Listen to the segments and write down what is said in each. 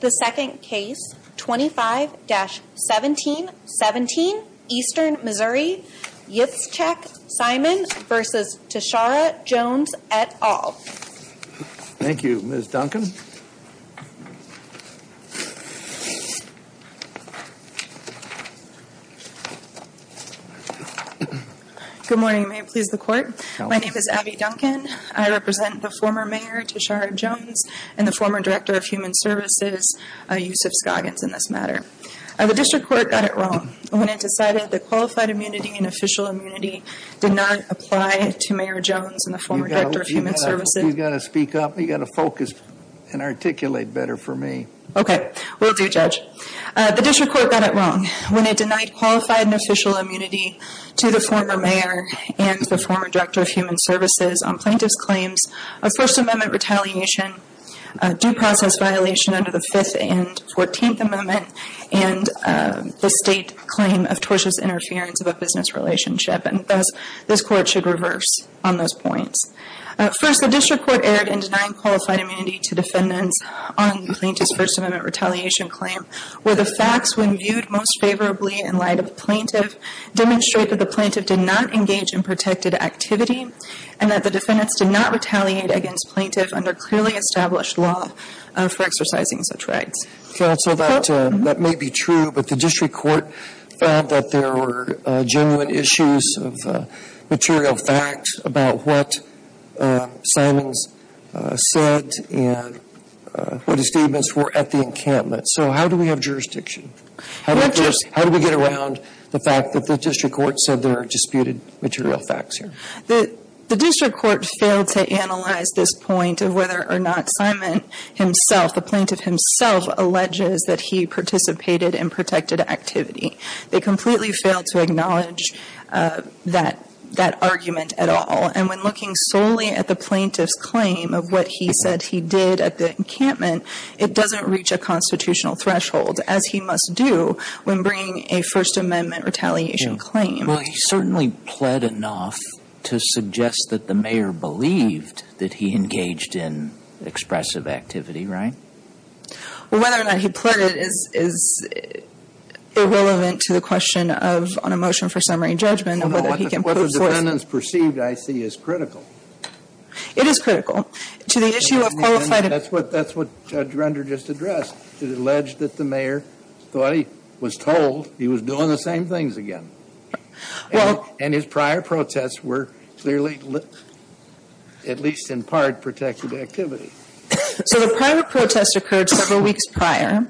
The second case, 25-1717 Eastern Missouri, Yitzchak Simon v. Tishaura Jones et al. Thank you, Ms. Duncan. Good morning. May it please the Court? My name is Abby Duncan. I represent the former Mayor Tishaura Jones and the former Director of Human Services, Yusuf Scoggins, in this matter. The District Court got it wrong when it decided that qualified immunity and official immunity did not apply to Mayor Jones and the former Director of Human Services. You've got to speak up. You've got to focus and articulate better for me. Okay. Will do, Judge. The District Court got it wrong when it denied qualified and official immunity to the former Mayor and the former Director of Human Services on plaintiff's claims of First Amendment retaliation, due process violation under the Fifth and Fourteenth Amendment, and the State claim of tortious interference of a business relationship. And thus, this Court should reverse on those points. First, the District Court erred in denying qualified immunity to defendants on the plaintiff's First Amendment retaliation claim, where the facts, when viewed most favorably in light of the plaintiff, demonstrate that the plaintiff did not engage in protected activity and that the defendants did not retaliate against plaintiff under clearly established law for exercising such rights. Counsel, that may be true, but the District Court found that there were genuine issues of material facts about what Simons said and what his statements were at the encampment. So how do we have jurisdiction? How do we get around the fact that the District Court said there are disputed material facts here? The District Court failed to analyze this point of whether or not Simon himself, the plaintiff himself, alleges that he participated in protected activity. They completely failed to acknowledge that argument at all. And when looking solely at the plaintiff's claim of what he said he did at the encampment, it doesn't reach a constitutional threshold, as he must do when bringing a First Amendment retaliation claim. Well, he certainly pled enough to suggest that the mayor believed that he engaged in expressive activity, right? Well, whether or not he pled it is irrelevant to the question of a motion for summary judgment and whether he can prove for it. What the defendants perceived, I see, is critical. It is critical. To the issue of qualified... That's what Judge Render just addressed. He alleged that the mayor thought he was told he was doing the same things again. And his prior protests were clearly, at least in part, protected activity. So the prior protest occurred several weeks prior.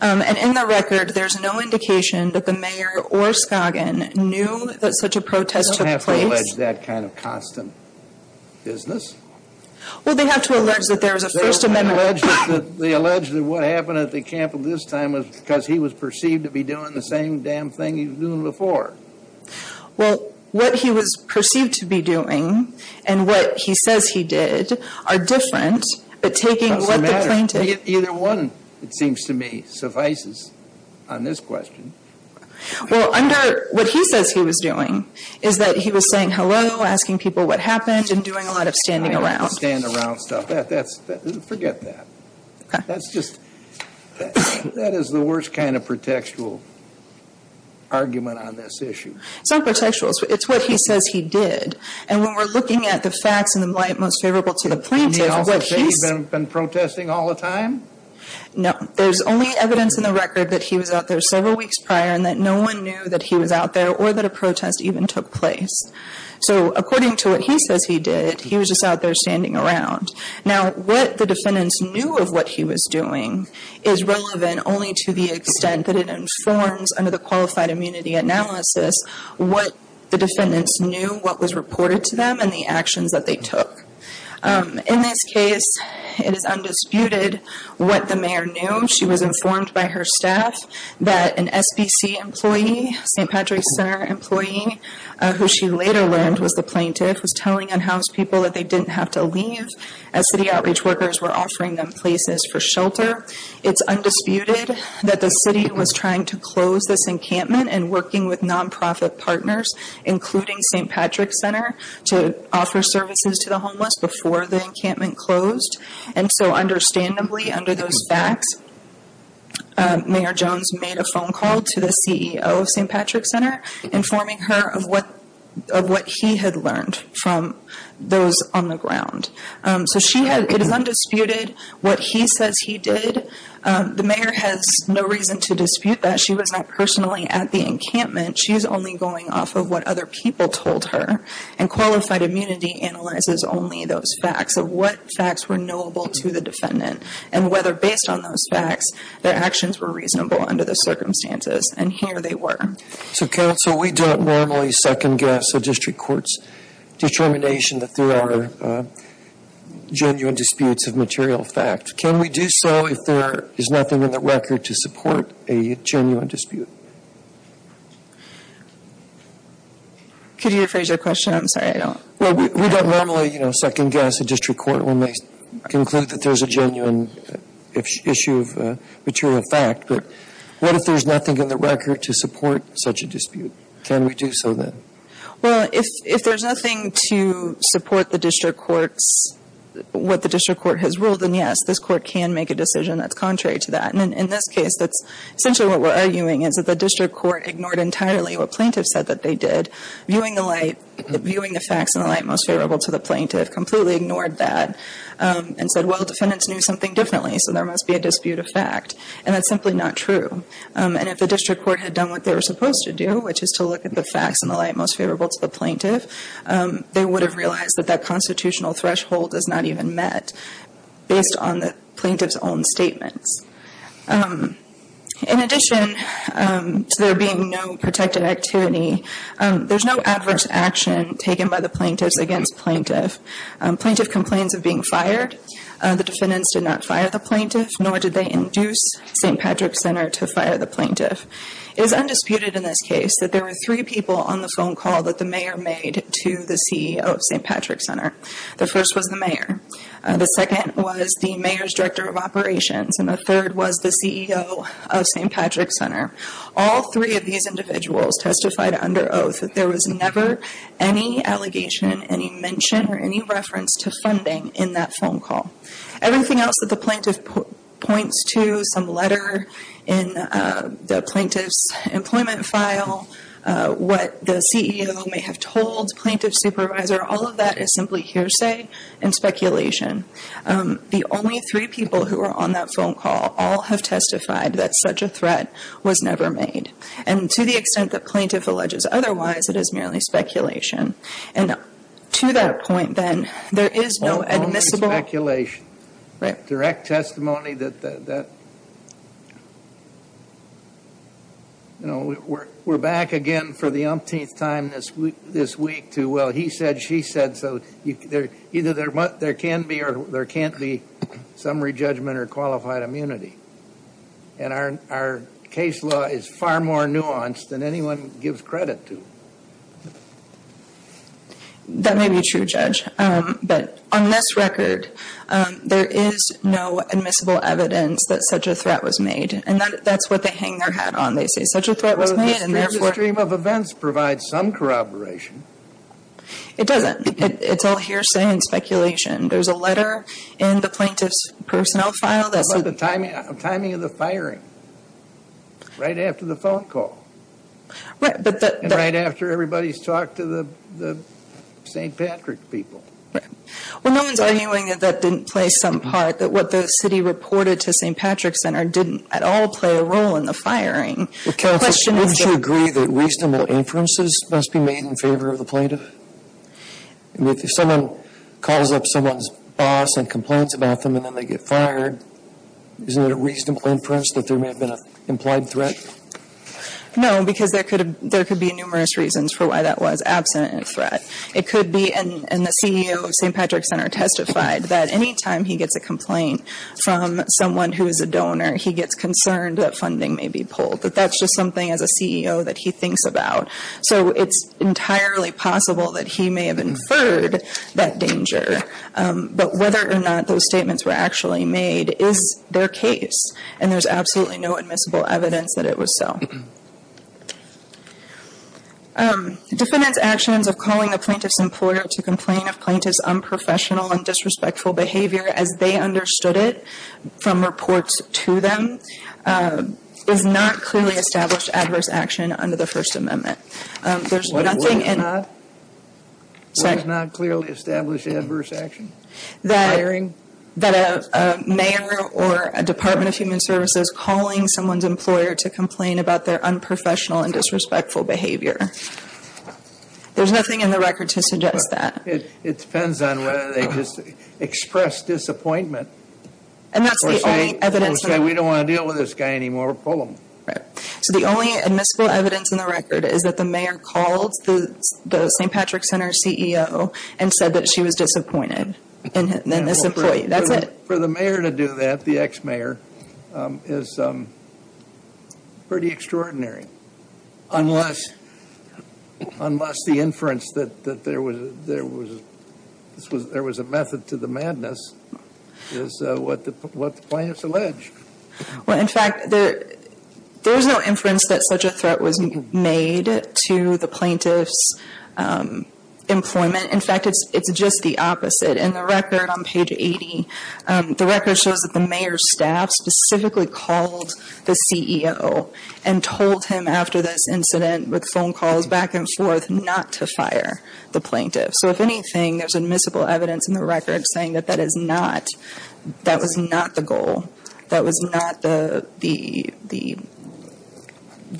And in the record, there's no indication that the mayor or Scoggin knew that such a protest took place. They don't have to allege that kind of constant business. Well, they have to allege that there was a First Amendment... They allege that what happened at the camp at this time was because he was perceived to be doing the same damn thing he was doing before. Well, what he was perceived to be doing and what he says he did are different, but taking what the plaintiff... Either one, it seems to me, suffices on this question. Well, under what he says he was doing is that he was saying hello, asking people what happened, and doing a lot of standing around. Standing around stuff. Forget that. That's just... That is the worst kind of protectual argument on this issue. It's not protectual. It's what he says he did. And when we're looking at the facts in the light most favorable to the plaintiff... And they also say he's been protesting all the time? No. There's only evidence in the record that he was out there several weeks prior and that no one knew that he was out there or that a protest even took place. So, according to what he says he did, he was just out there standing around. Now, what the defendants knew of what he was doing is relevant only to the extent that it informs under the Qualified Immunity Analysis what the defendants knew, what was reported to them, and the actions that they took. In this case, it is undisputed what the mayor knew. She was informed by her staff that an SBC employee, St. Patrick's Center employee, who she later learned was the plaintiff, was telling unhoused people that they didn't have to leave as city outreach workers were offering them places for shelter. It's undisputed that the city was trying to close this encampment and working with nonprofit partners, including St. Patrick's Center, to offer services to the homeless before the encampment closed. And so, understandably, under those facts, Mayor Jones made a phone call to the CEO of St. Patrick's Center informing her of what he had learned from those on the ground. So, it is undisputed what he says he did. The mayor has no reason to dispute that. She was not personally at the encampment. She is only going off of what other people told her. And qualified immunity analyzes only those facts of what facts were knowable to the defendant and whether, based on those facts, their actions were reasonable under the circumstances. And here they were. So, counsel, we don't normally second-guess a district court's determination that there are genuine disputes of material fact. Can we do so if there is nothing in the record to support a genuine dispute? Could you rephrase your question? I'm sorry. We don't normally second-guess a district court when they conclude that there is a genuine issue of material fact. But what if there is nothing in the record to support such a dispute? Can we do so then? Well, if there is nothing to support what the district court has ruled, then yes, this court can make a decision that is contrary to that. And in this case, essentially what we're arguing is that the district court ignored entirely what plaintiffs said that they did, viewing the facts in the light most favorable to the plaintiff, completely ignored that, and said, well, defendants knew something differently, so there must be a dispute of fact. And that's simply not true. And if the district court had done what they were supposed to do, which is to look at the facts in the light most favorable to the plaintiff, they would have realized that that constitutional threshold is not even met based on the plaintiff's own statements. In addition to there being no protected activity, there's no adverse action taken by the plaintiffs against plaintiff. Plaintiff complains of being fired. The defendants did not fire the plaintiff, nor did they induce St. Patrick's Center to fire the plaintiff. It is undisputed in this case that there were three people on the phone call that the mayor made to the CEO of St. Patrick's Center. The first was the mayor. The second was the mayor's director of operations, and the third was the CEO of St. Patrick's Center. All three of these individuals testified under oath that there was never any allegation, any mention, or any reference to funding in that phone call. Everything else that the plaintiff points to, some letter in the plaintiff's employment file, what the CEO may have told plaintiff's supervisor, all of that is simply hearsay and speculation. The only three people who were on that phone call all have testified that such a threat was never made. And to the extent that plaintiff alleges otherwise, it is merely speculation. And to that point, then, there is no admissible... Right. Direct testimony that... You know, we're back again for the umpteenth time this week to, well, he said, she said, so either there can be or there can't be summary judgment or qualified immunity. And our case law is far more nuanced than anyone gives credit to. That may be true, Judge. But on this record, there is no admissible evidence that such a threat was made. And that's what they hang their hat on. They say such a threat was made and therefore... Well, the stream of events provides some corroboration. It doesn't. It's all hearsay and speculation. There's a letter in the plaintiff's personnel file that said... The timing of the firing, right after the phone call. Right, but that... And right after everybody's talked to the St. Patrick people. Right. Well, no one's arguing that that didn't play some part, that what the city reported to St. Patrick's Center didn't at all play a role in the firing. The question is... Counsel, wouldn't you agree that reasonable inferences must be made in favor of the plaintiff? If someone calls up someone's boss and complains about them and then they get fired, isn't it a reasonable inference that there may have been an implied threat? No, because there could be numerous reasons for why that was absent in a threat. It could be, and the CEO of St. Patrick's Center testified, that any time he gets a complaint from someone who is a donor, he gets concerned that funding may be pulled. That that's just something, as a CEO, that he thinks about. So, it's entirely possible that he may have inferred that danger. But whether or not those statements were actually made is their case. And there's absolutely no admissible evidence that it was so. Defendant's actions of calling a plaintiff's employer to complain of plaintiff's unprofessional and disrespectful behavior as they understood it, from reports to them, is not clearly established adverse action under the First Amendment. What is not? What is not clearly established adverse action? That a mayor or a Department of Human Services calling someone's employer to complain about their unprofessional and disrespectful behavior. There's nothing in the record to suggest that. It depends on whether they just expressed disappointment. We don't want to deal with this guy anymore. Pull him. So, the only admissible evidence in the record is that the mayor called the St. Patrick's Center CEO and said that she was disappointed in this employee. That's it. For the mayor to do that, the ex-mayor, is pretty extraordinary. Unless the inference that there was a method to the madness is what the plaintiffs allege. Well, in fact, there's no inference that such a threat was made to the plaintiff's employment. In fact, it's just the opposite. In the record on page 80, the record shows that the mayor's staff specifically called the CEO and told him after this incident with phone calls back and forth not to fire the plaintiff. So, if anything, there's admissible evidence in the record saying that that was not the goal. That was not the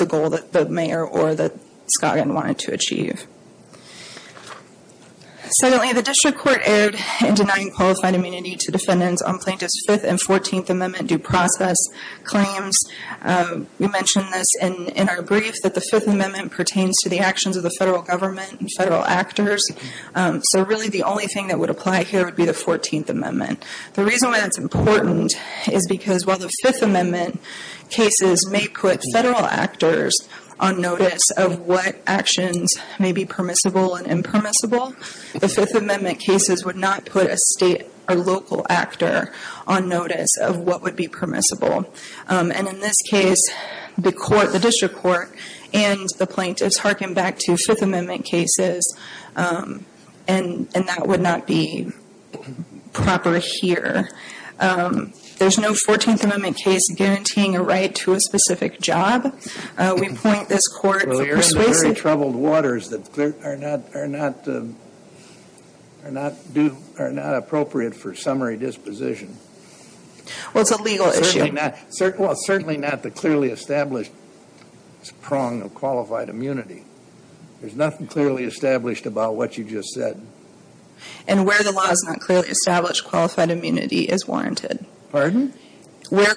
goal that the mayor or that Scoggin wanted to achieve. Secondly, the district court erred in denying qualified immunity to defendants on plaintiffs' Fifth and Fourteenth Amendment due process claims. We mentioned this in our brief, that the Fifth Amendment pertains to the actions of the federal government and federal actors, so really the only thing that would apply here would be the Fourteenth Amendment. The reason why that's important is because while the Fifth Amendment cases may put federal actors on notice of what actions may be permissible and impermissible, the Fifth Amendment cases would not put a state or local actor on notice of what would be permissible. In this case, the district court and the plaintiffs hearken back to Fifth Amendment cases, and that would not be proper here. There's no Fourteenth Amendment case guaranteeing a right to a specific job. We point this court to persuasive... Well, you're in very troubled waters that are not appropriate for summary disposition. Well, it's a legal issue. Well, it's certainly not the clearly established prong of qualified immunity. There's nothing clearly established about what you just said. And where the law is not clearly established, qualified immunity is warranted. Pardon? Where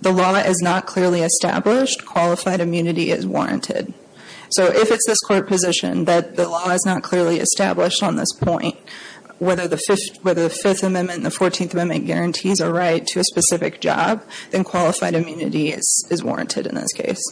the law is not clearly established, qualified immunity is warranted. So if it's this court position that the law is not clearly established on this point, whether the Fifth Amendment and the Fourteenth Amendment guarantees a right to a specific job, then qualified immunity is warranted in this case.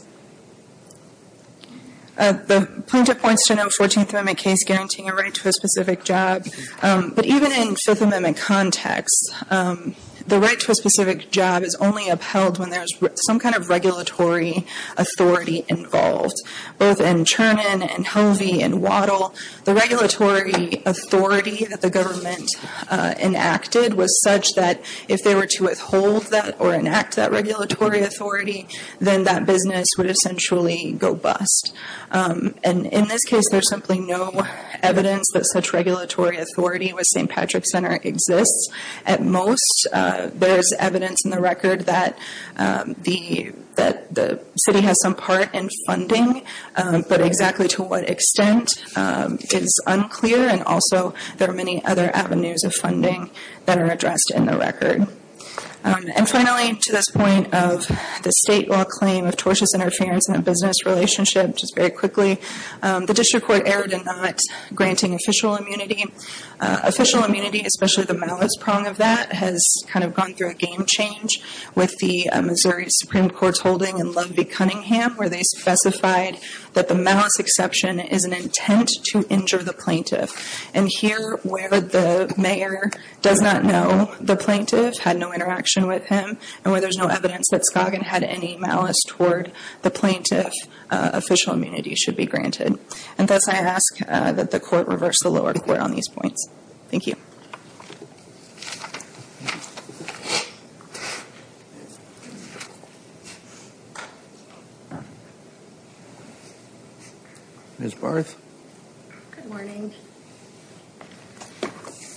The plaintiff points to no Fourteenth Amendment case guaranteeing a right to a specific job, but even in Fifth Amendment context, the right to a specific job is only upheld when there's some kind of regulatory authority involved. Both in Chernin and Hovey and Waddle, the regulatory authority that the government enacted was such that if they were to withhold that or enact that regulatory authority, then that business would essentially go bust. And in this case, there's simply no evidence that such regulatory authority with St. Patrick's Center exists. At most, there's evidence in the record that the city has some part in funding, but exactly to what extent is unclear. And also, there are many other avenues of funding that are addressed in the record. And finally, to this point of the state law claim of tortious interference in a business relationship, just very quickly, the district court erred in not granting official immunity. Official immunity, especially the malice prong of that, has kind of gone through a game change with the Missouri Supreme Court's holding in Ludwig Cunningham, where they specified that the malice exception is an intent to injure the plaintiff. And here, where the mayor does not know the plaintiff, had no interaction with him, and where there's no evidence that Scoggin had any malice toward the plaintiff, official immunity should be granted. And thus, I ask that the court reverse the lower court on these points. Thank you. Ms. Barth? Good morning.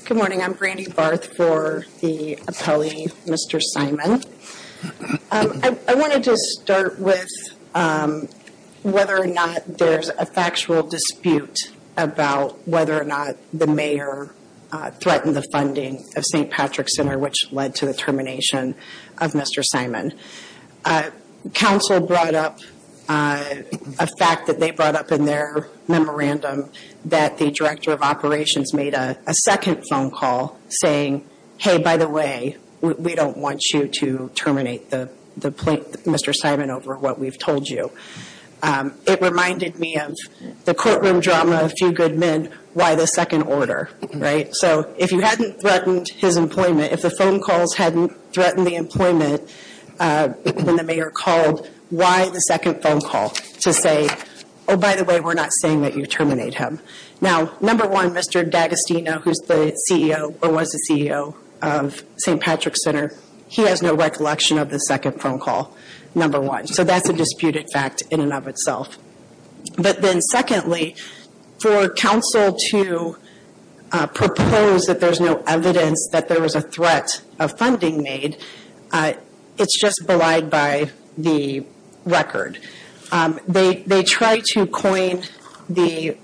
Good morning. I'm Brandy Barth for the appellee, Mr. Simon. I wanted to start with whether or not there's a factual dispute about whether or not the mayor threatened the funding of St. Patrick's Center, which led to the termination of Mr. Simon. Council brought up a fact that they brought up in their memorandum that the director of operations made a second phone call saying, hey, by the way, we don't want you to terminate Mr. Simon over what we've told you. It reminded me of the courtroom drama, A Few Good Men, Why the Second Order, right? So if you hadn't threatened his employment, if the phone calls hadn't threatened the employment, when the mayor called, why the second phone call to say, oh, by the way, we're not saying that you terminate him. Now, number one, Mr. D'Agostino, who's the CEO or was the CEO of St. Patrick's Center, he has no recollection of the second phone call, number one. So that's a disputed fact in and of itself. But then secondly, for council to propose that there's no evidence that there was a threat of funding made, it's just belied by the record. They try to coin the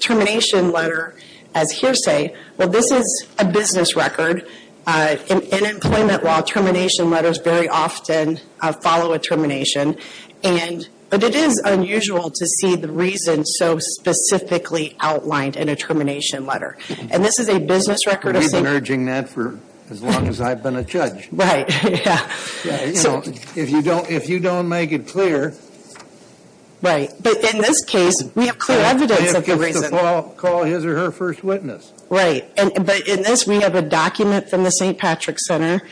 termination letter as hearsay. Well, this is a business record. In employment law, termination letters very often follow a termination. But it is unusual to see the reason so specifically outlined in a termination letter. And this is a business record of some – We've been urging that for as long as I've been a judge. Right, yeah. If you don't make it clear. Right, but in this case, we have clear evidence of the reason. We have to call his or her first witness. Right. But in this, we have a document from the St. Patrick's Center,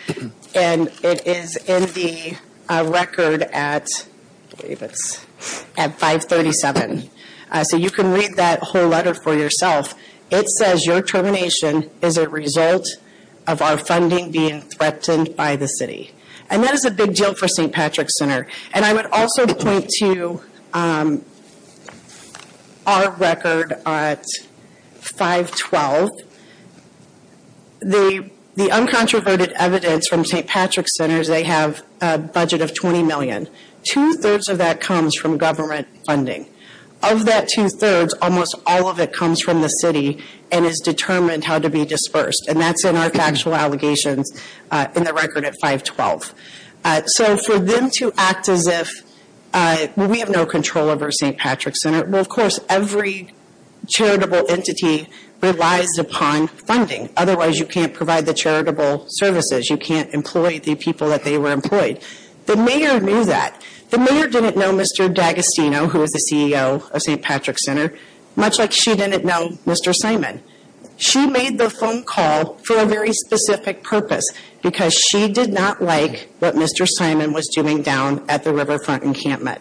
and it is in the record at 537. So you can read that whole letter for yourself. It says your termination is a result of our funding being threatened by the city. And that is a big deal for St. Patrick's Center. And I would also point to our record at 512. The uncontroverted evidence from St. Patrick's Center is they have a budget of $20 million. Two-thirds of that comes from government funding. Of that two-thirds, almost all of it comes from the city and is determined how to be dispersed. And that's in our factual allegations in the record at 512. So for them to act as if we have no control over St. Patrick's Center, well, of course, every charitable entity relies upon funding. Otherwise, you can't provide the charitable services. You can't employ the people that they were employed. The mayor knew that. The mayor didn't know Mr. D'Agostino, who is the CEO of St. Patrick's Center, much like she didn't know Mr. Simon. She made the phone call for a very specific purpose because she did not like what Mr. Simon was doing down at the Riverfront Encampment.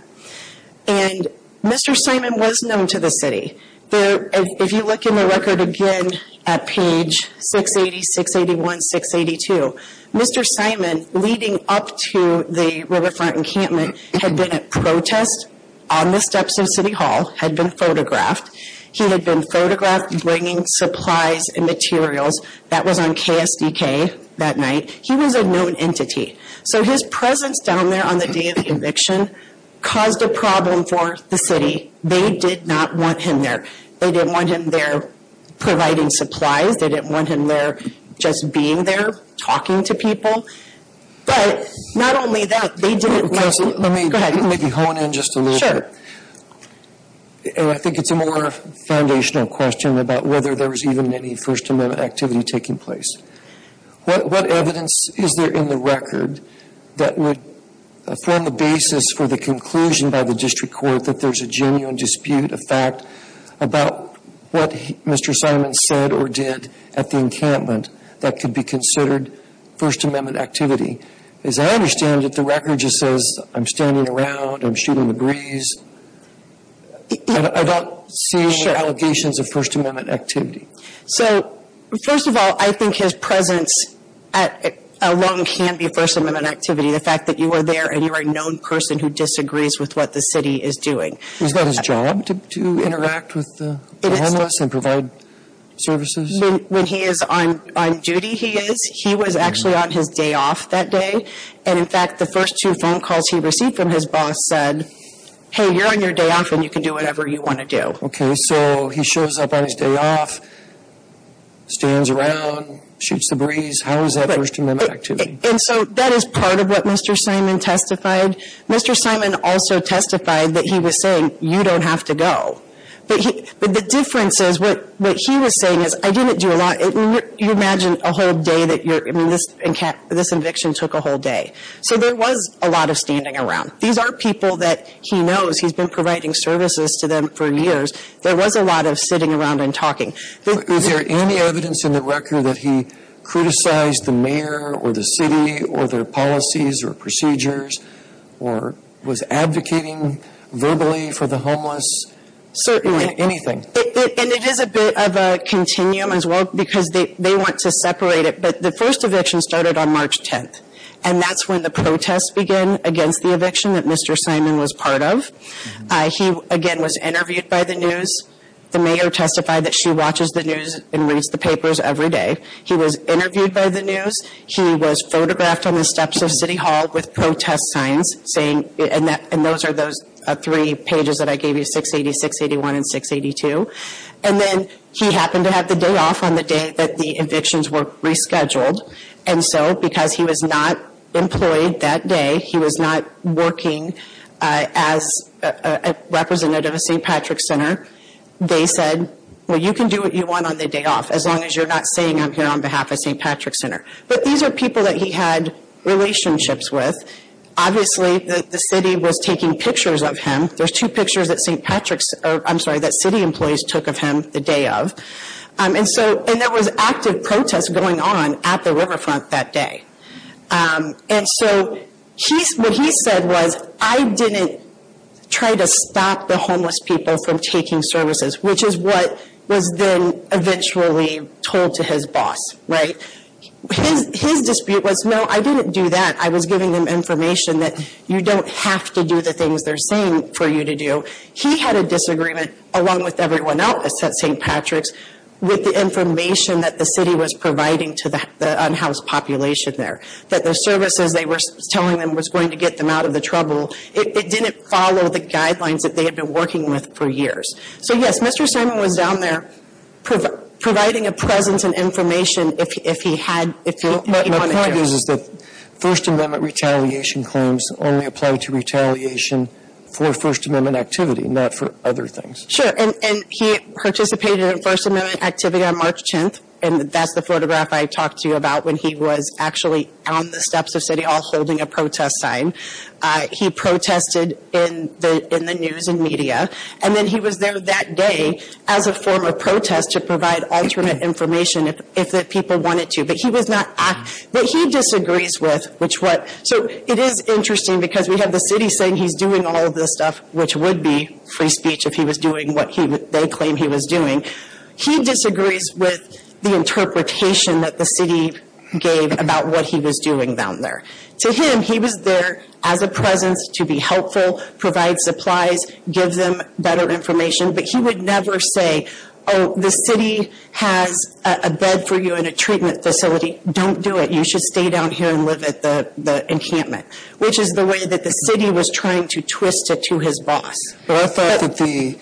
And Mr. Simon was known to the city. If you look in the record again at page 680, 681, 682, Mr. Simon, leading up to the Riverfront Encampment, had been at protest on the steps of City Hall, had been photographed. He had been photographed bringing supplies and materials. That was on KSDK that night. He was a known entity. So his presence down there on the day of the eviction caused a problem for the city. They did not want him there. They didn't want him there providing supplies. They didn't want him there just being there talking to people. But not only that, they didn't like it. Let me maybe hone in just a little bit. I think it's a more foundational question about whether there was even any First Amendment activity taking place. What evidence is there in the record that would form the basis for the conclusion by the district court that there's a genuine dispute, a fact, about what Mr. Simon said or did at the encampment that could be considered First Amendment activity? As I understand it, the record just says, I'm standing around, I'm shooting the breeze. I don't see any allegations of First Amendment activity. So, first of all, I think his presence alone can be First Amendment activity. The fact that you are there and you are a known person who disagrees with what the city is doing. Is that his job to interact with the homeless and provide services? When he is on duty, he is. He was actually on his day off that day. And, in fact, the first two phone calls he received from his boss said, hey, you're on your day off and you can do whatever you want to do. Okay, so he shows up on his day off, stands around, shoots the breeze. How is that First Amendment activity? And so that is part of what Mr. Simon testified. Mr. Simon also testified that he was saying, you don't have to go. But the difference is, what he was saying is, I didn't do a lot. You imagine a whole day that you're, I mean, this eviction took a whole day. So there was a lot of standing around. These are people that he knows. He's been providing services to them for years. There was a lot of sitting around and talking. Is there any evidence in the record that he criticized the mayor or the city or their policies or procedures or was advocating verbally for the homeless? Certainly. In anything? And it is a bit of a continuum as well because they want to separate it. But the first eviction started on March 10th, and that's when the protests began against the eviction that Mr. Simon was part of. He, again, was interviewed by the news. The mayor testified that she watches the news and reads the papers every day. He was interviewed by the news. He was photographed on the steps of City Hall with protest signs saying, and those are those three pages that I gave you, 680, 681, and 682. And then he happened to have the day off on the day that the evictions were rescheduled. And so because he was not employed that day, he was not working as a representative of St. Patrick's Center, they said, well, you can do what you want on the day off, as long as you're not saying I'm here on behalf of St. Patrick's Center. But these are people that he had relationships with. Obviously, the city was taking pictures of him. There's two pictures that St. Patrick's – I'm sorry, that city employees took of him the day of. And so – and there was active protest going on at the riverfront that day. And so what he said was, I didn't try to stop the homeless people from taking services, which is what was then eventually told to his boss, right? His dispute was, no, I didn't do that. I was giving them information that you don't have to do the things they're saying for you to do. He had a disagreement, along with everyone else at St. Patrick's, with the information that the city was providing to the unhoused population there, that the services they were telling them was going to get them out of the trouble. It didn't follow the guidelines that they had been working with for years. So, yes, Mr. Simon was down there providing a presence and information if he had – if he wanted to. My point is that First Amendment retaliation claims only apply to retaliation for First Amendment activity, not for other things. Sure, and he participated in First Amendment activity on March 10th, and that's the photograph I talked to you about when he was actually on the steps of city hall holding a protest sign. He protested in the news and media. And then he was there that day as a form of protest to provide alternate information if the people wanted to. But he was not – but he disagrees with which what – so it is interesting because we have the city saying he's doing all of this stuff, which would be free speech if he was doing what they claim he was doing. He disagrees with the interpretation that the city gave about what he was doing down there. To him, he was there as a presence to be helpful, provide supplies, give them better information. But he would never say, oh, the city has a bed for you and a treatment facility. Don't do it. You should stay down here and live at the encampment, which is the way that the city was trying to twist it to his boss. Well, I thought that the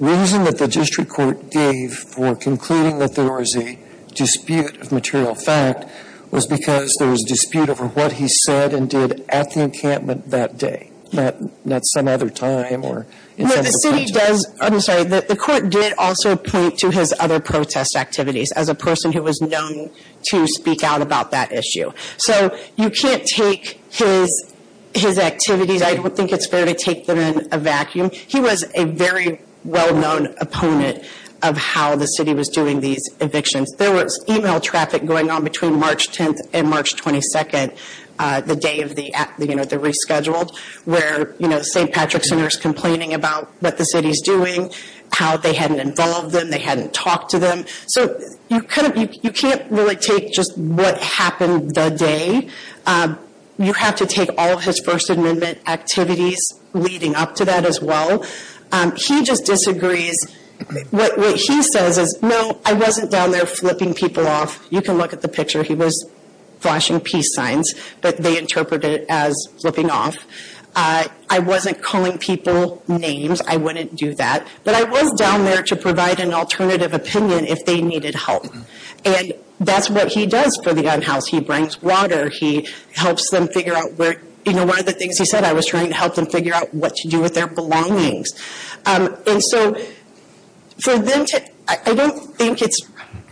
reason that the district court gave for concluding that there was a dispute of material fact was because there was a dispute over what he said and did at the encampment that day, not some other time. No, the city does – I'm sorry. The court did also point to his other protest activities as a person who was known to speak out about that issue. So you can't take his activities. I don't think it's fair to take them in a vacuum. He was a very well-known opponent of how the city was doing these evictions. There was email traffic going on between March 10th and March 22nd, the day of the rescheduled, where St. Patrick's Center is complaining about what the city is doing, how they hadn't involved them, they hadn't talked to them. So you can't really take just what happened that day. You have to take all of his First Amendment activities leading up to that as well. He just disagrees. What he says is, no, I wasn't down there flipping people off. You can look at the picture. He was flashing peace signs, but they interpreted it as flipping off. I wasn't calling people names. I wouldn't do that. But I was down there to provide an alternative opinion if they needed help. And that's what he does for the gun house. He brings water. He helps them figure out where, you know, one of the things he said, I was trying to help them figure out what to do with their belongings. And so for them to, I don't think it's, I'm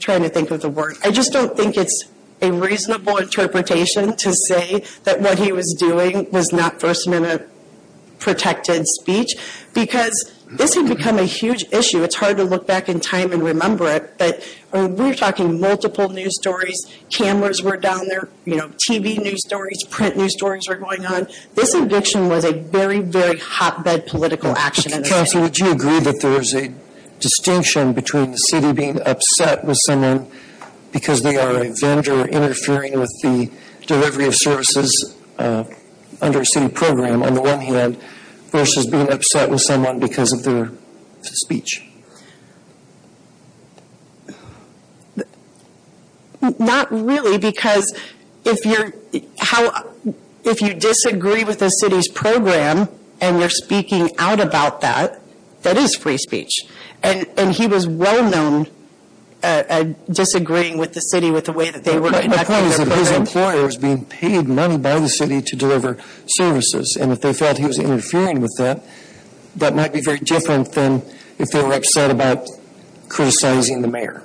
trying to think of the word. I just don't think it's a reasonable interpretation to say that what he was doing was not First Amendment-protected speech because this had become a huge issue. It's hard to look back in time and remember it. But we were talking multiple news stories. Cameras were down there. You know, TV news stories, print news stories were going on. This eviction was a very, very hotbed political action. Counsel, would you agree that there is a distinction between the city being upset with someone because they are a vendor interfering with the delivery of services under a city program, on the one hand, versus being upset with someone because of their speech? Not really because if you disagree with the city's program and you're speaking out about that, that is free speech. And he was well-known disagreeing with the city with the way that they were conducting their program. Because if his employer was being paid money by the city to deliver services and if they felt he was interfering with that, that might be very different than if they were upset about criticizing the mayor.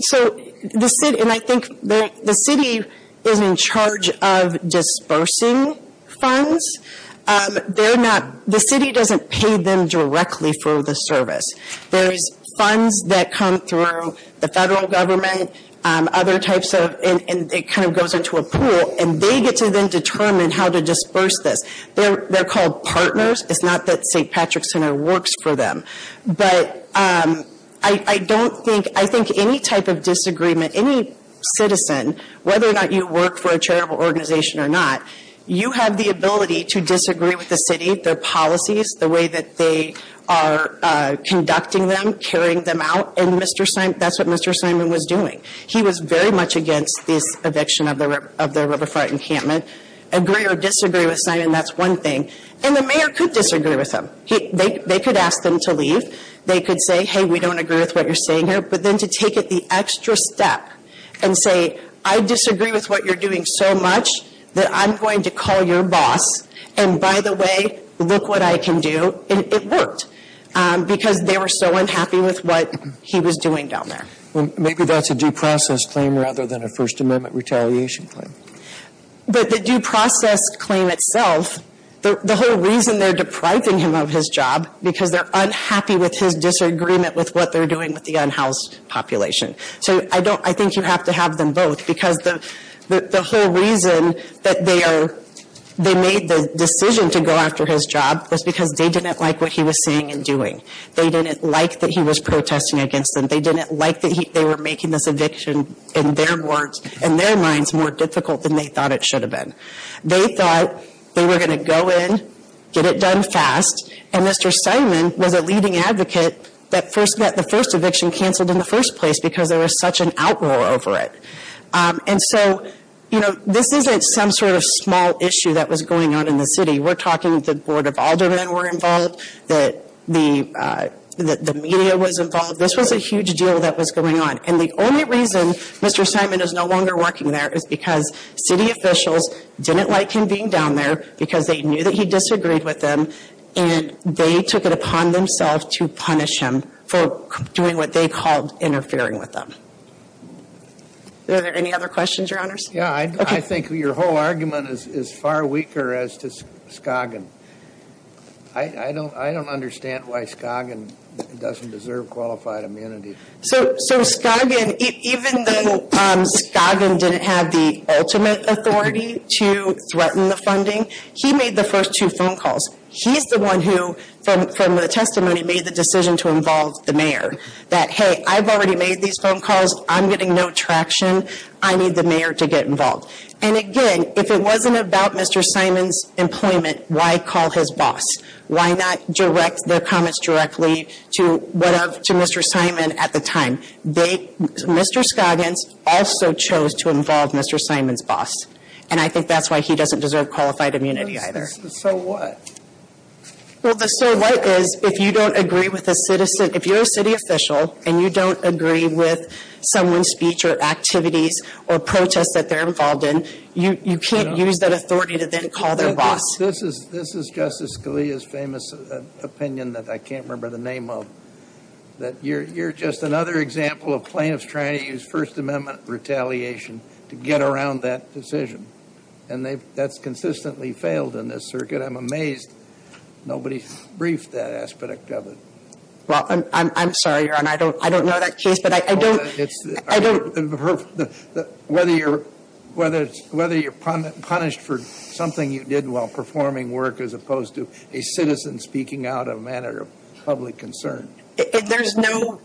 So the city, and I think the city is in charge of dispersing funds. They're not, the city doesn't pay them directly for the service. There's funds that come through the federal government, other types of, and it kind of goes into a pool, and they get to then determine how to disperse this. They're called partners. It's not that St. Patrick's Center works for them. But I don't think, I think any type of disagreement, any citizen, whether or not you work for a charitable organization or not, you have the ability to disagree with the city, their policies, the way that they are conducting them, carrying them out. And Mr. Simon, that's what Mr. Simon was doing. He was very much against this eviction of the riverfront encampment. Agree or disagree with Simon, that's one thing. And the mayor could disagree with him. They could ask them to leave. They could say, hey, we don't agree with what you're saying here. But then to take it the extra step and say, I disagree with what you're doing so much that I'm going to call your boss, and by the way, look what I can do, it worked. Because they were so unhappy with what he was doing down there. Maybe that's a due process claim rather than a First Amendment retaliation claim. But the due process claim itself, the whole reason they're depriving him of his job, because they're unhappy with his disagreement with what they're doing with the unhoused population. So I think you have to have them both. Because the whole reason that they made the decision to go after his job was because they didn't like what he was saying and doing. They didn't like that he was protesting against them. They didn't like that they were making this eviction in their minds more difficult than they thought it should have been. They thought they were going to go in, get it done fast. And Mr. Simon was a leading advocate that the first eviction canceled in the first place because there was such an outroar over it. And so this isn't some sort of small issue that was going on in the city. We're talking that the Board of Aldermen were involved, that the media was involved. This was a huge deal that was going on. And the only reason Mr. Simon is no longer working there is because city officials didn't like him being down there because they knew that he disagreed with them. And they took it upon themselves to punish him for doing what they called interfering with them. Are there any other questions, Your Honors? Yeah, I think your whole argument is far weaker as to Scoggin. I don't understand why Scoggin doesn't deserve qualified immunity. So Scoggin, even though Scoggin didn't have the ultimate authority to threaten the funding, he made the first two phone calls. He's the one who, from the testimony, made the decision to involve the mayor. That, hey, I've already made these phone calls. I'm getting no traction. I need the mayor to get involved. And again, if it wasn't about Mr. Simon's employment, why call his boss? Why not direct their comments directly to Mr. Simon at the time? Mr. Scoggins also chose to involve Mr. Simon's boss. And I think that's why he doesn't deserve qualified immunity either. So what? Well, the so what is, if you don't agree with a citizen, if you're a city official and you don't agree with someone's speech or activities or protests that they're involved in, you can't use that authority to then call their boss. This is Justice Scalia's famous opinion that I can't remember the name of, that you're just another example of plaintiffs trying to use First Amendment retaliation to get around that decision. And that's consistently failed in this circuit. I'm amazed nobody briefed that aspect of it. Well, I'm sorry, Your Honor. I don't know that case. But I don't. I don't. Whether you're punished for something you did while performing work as opposed to a citizen speaking out of a matter of public concern. There's no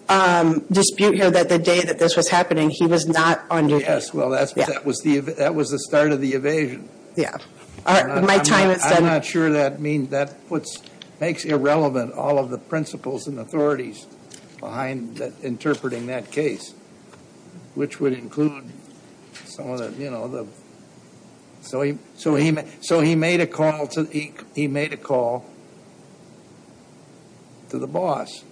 dispute here that the day that this was happening, he was not on duty. Yes, well, that was the start of the evasion. Yeah. My time is done. I'm not sure that means, that makes irrelevant all of the principles and authorities behind interpreting that case. Which would include some of the, you know, so he made a call to the boss.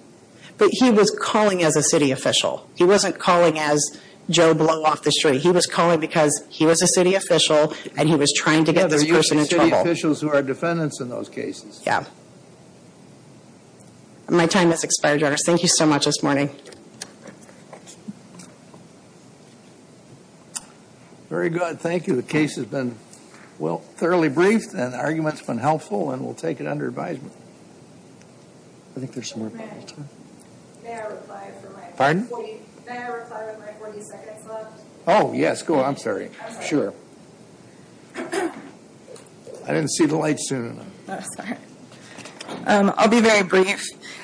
But he was calling as a city official. He wasn't calling as Joe Blow-Off-the-Street. He was calling because he was a city official and he was trying to get this person in trouble. City officials who are defendants in those cases. Yeah. My time has expired, Your Honor. Thank you so much this morning. Very good. Thank you. The case has been, well, thoroughly briefed and the argument's been helpful and we'll take it under advisement. I think there's some more. Pardon? May I reply with my 40 seconds left? Oh, yes. Go on. I'm sorry. Sure. I didn't see the light soon enough. Oh, sorry. I'll be very brief.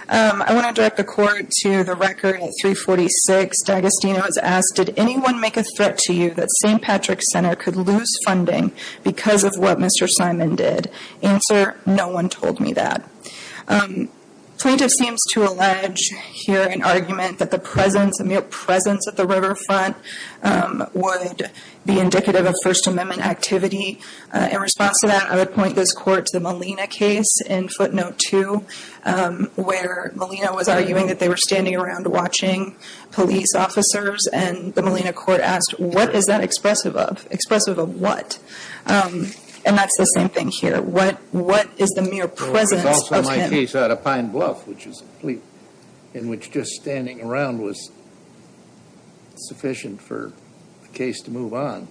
I want to direct the court to the record at 346. D'Agostino has asked, did anyone make a threat to you that St. Patrick's Center could lose funding because of what Mr. Simon did? Answer, no one told me that. Plaintiff seems to allege here an argument that the mere presence at the riverfront would be indicative of First Amendment activity. In response to that, I would point this court to the Molina case in footnote 2, where Molina was arguing that they were standing around watching police officers, and the Molina court asked, what is that expressive of? Expressive of what? And that's the same thing here. What is the mere presence of him? It was also my case out of Pine Bluff, which is a fleet in which just standing around was sufficient for the case to move on.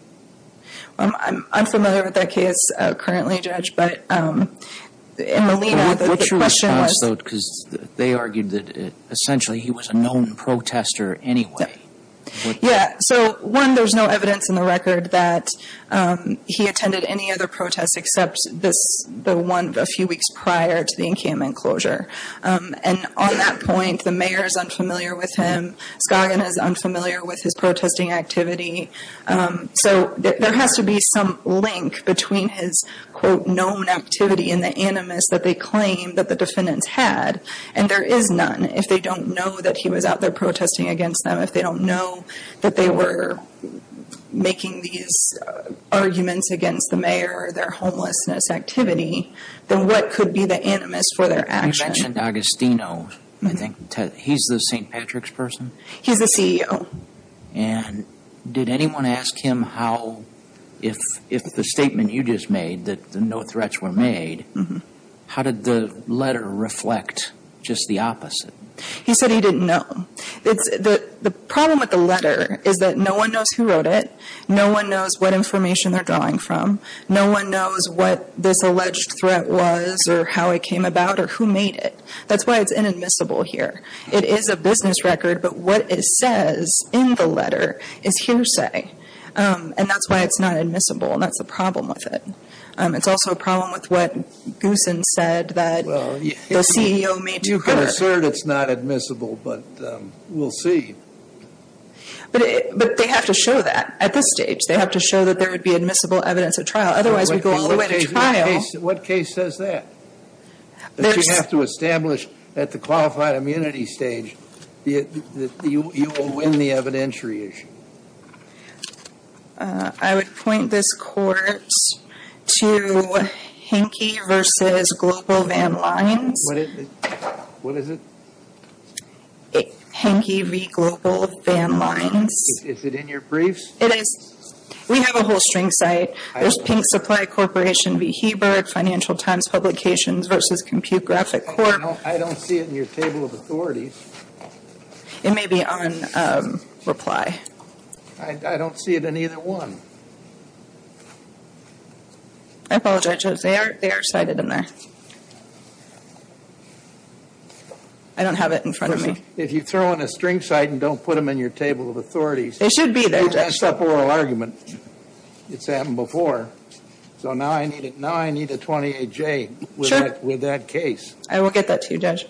I'm unfamiliar with that case currently, Judge, but in Molina, the question was – What's your response, though, because they argued that essentially he was a known protester anyway. Yeah, so one, there's no evidence in the record that he attended any other protests except the one a few weeks prior to the encampment closure. And on that point, the mayor is unfamiliar with him. Scogin is unfamiliar with his protesting activity. So there has to be some link between his, quote, known activity and the animus that they claim that the defendants had. And there is none. If they don't know that he was out there protesting against them, if they don't know that they were making these arguments against the mayor or their homelessness activity, then what could be the animus for their action? You mentioned Agostino. He's the St. Patrick's person? He's the CEO. And did anyone ask him how, if the statement you just made that no threats were made, how did the letter reflect just the opposite? He said he didn't know. The problem with the letter is that no one knows who wrote it, no one knows what information they're drawing from, no one knows what this alleged threat was or how it came about or who made it. That's why it's inadmissible here. It is a business record, but what it says in the letter is hearsay, and that's why it's not admissible, and that's the problem with it. It's also a problem with what Goosen said that the CEO made to her. You can assert it's not admissible, but we'll see. But they have to show that at this stage. They have to show that there would be admissible evidence at trial. Otherwise, we go all the way to trial. What case says that? That you have to establish at the qualified immunity stage that you will win the evidentiary issue. I would point this court to Henke v. Global Van Lines. What is it? Henke v. Global Van Lines. Is it in your briefs? It is. We have a whole string cite. There's Pink Supply Corporation v. Hebert, Financial Times Publications v. Compute Graphic Corp. I don't see it in your table of authorities. It may be on reply. I don't see it in either one. I apologize, Judge. They are cited in there. I don't have it in front of me. If you throw in a string cite and don't put them in your table of authorities. They should be there, Judge. Except oral argument. It's happened before. Now I need a 28-J with that case. I will get that to you, Judge.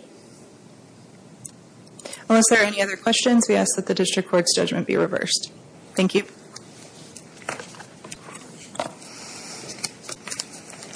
Unless there are any other questions, we ask that the district court's judgment be reversed. Thank you.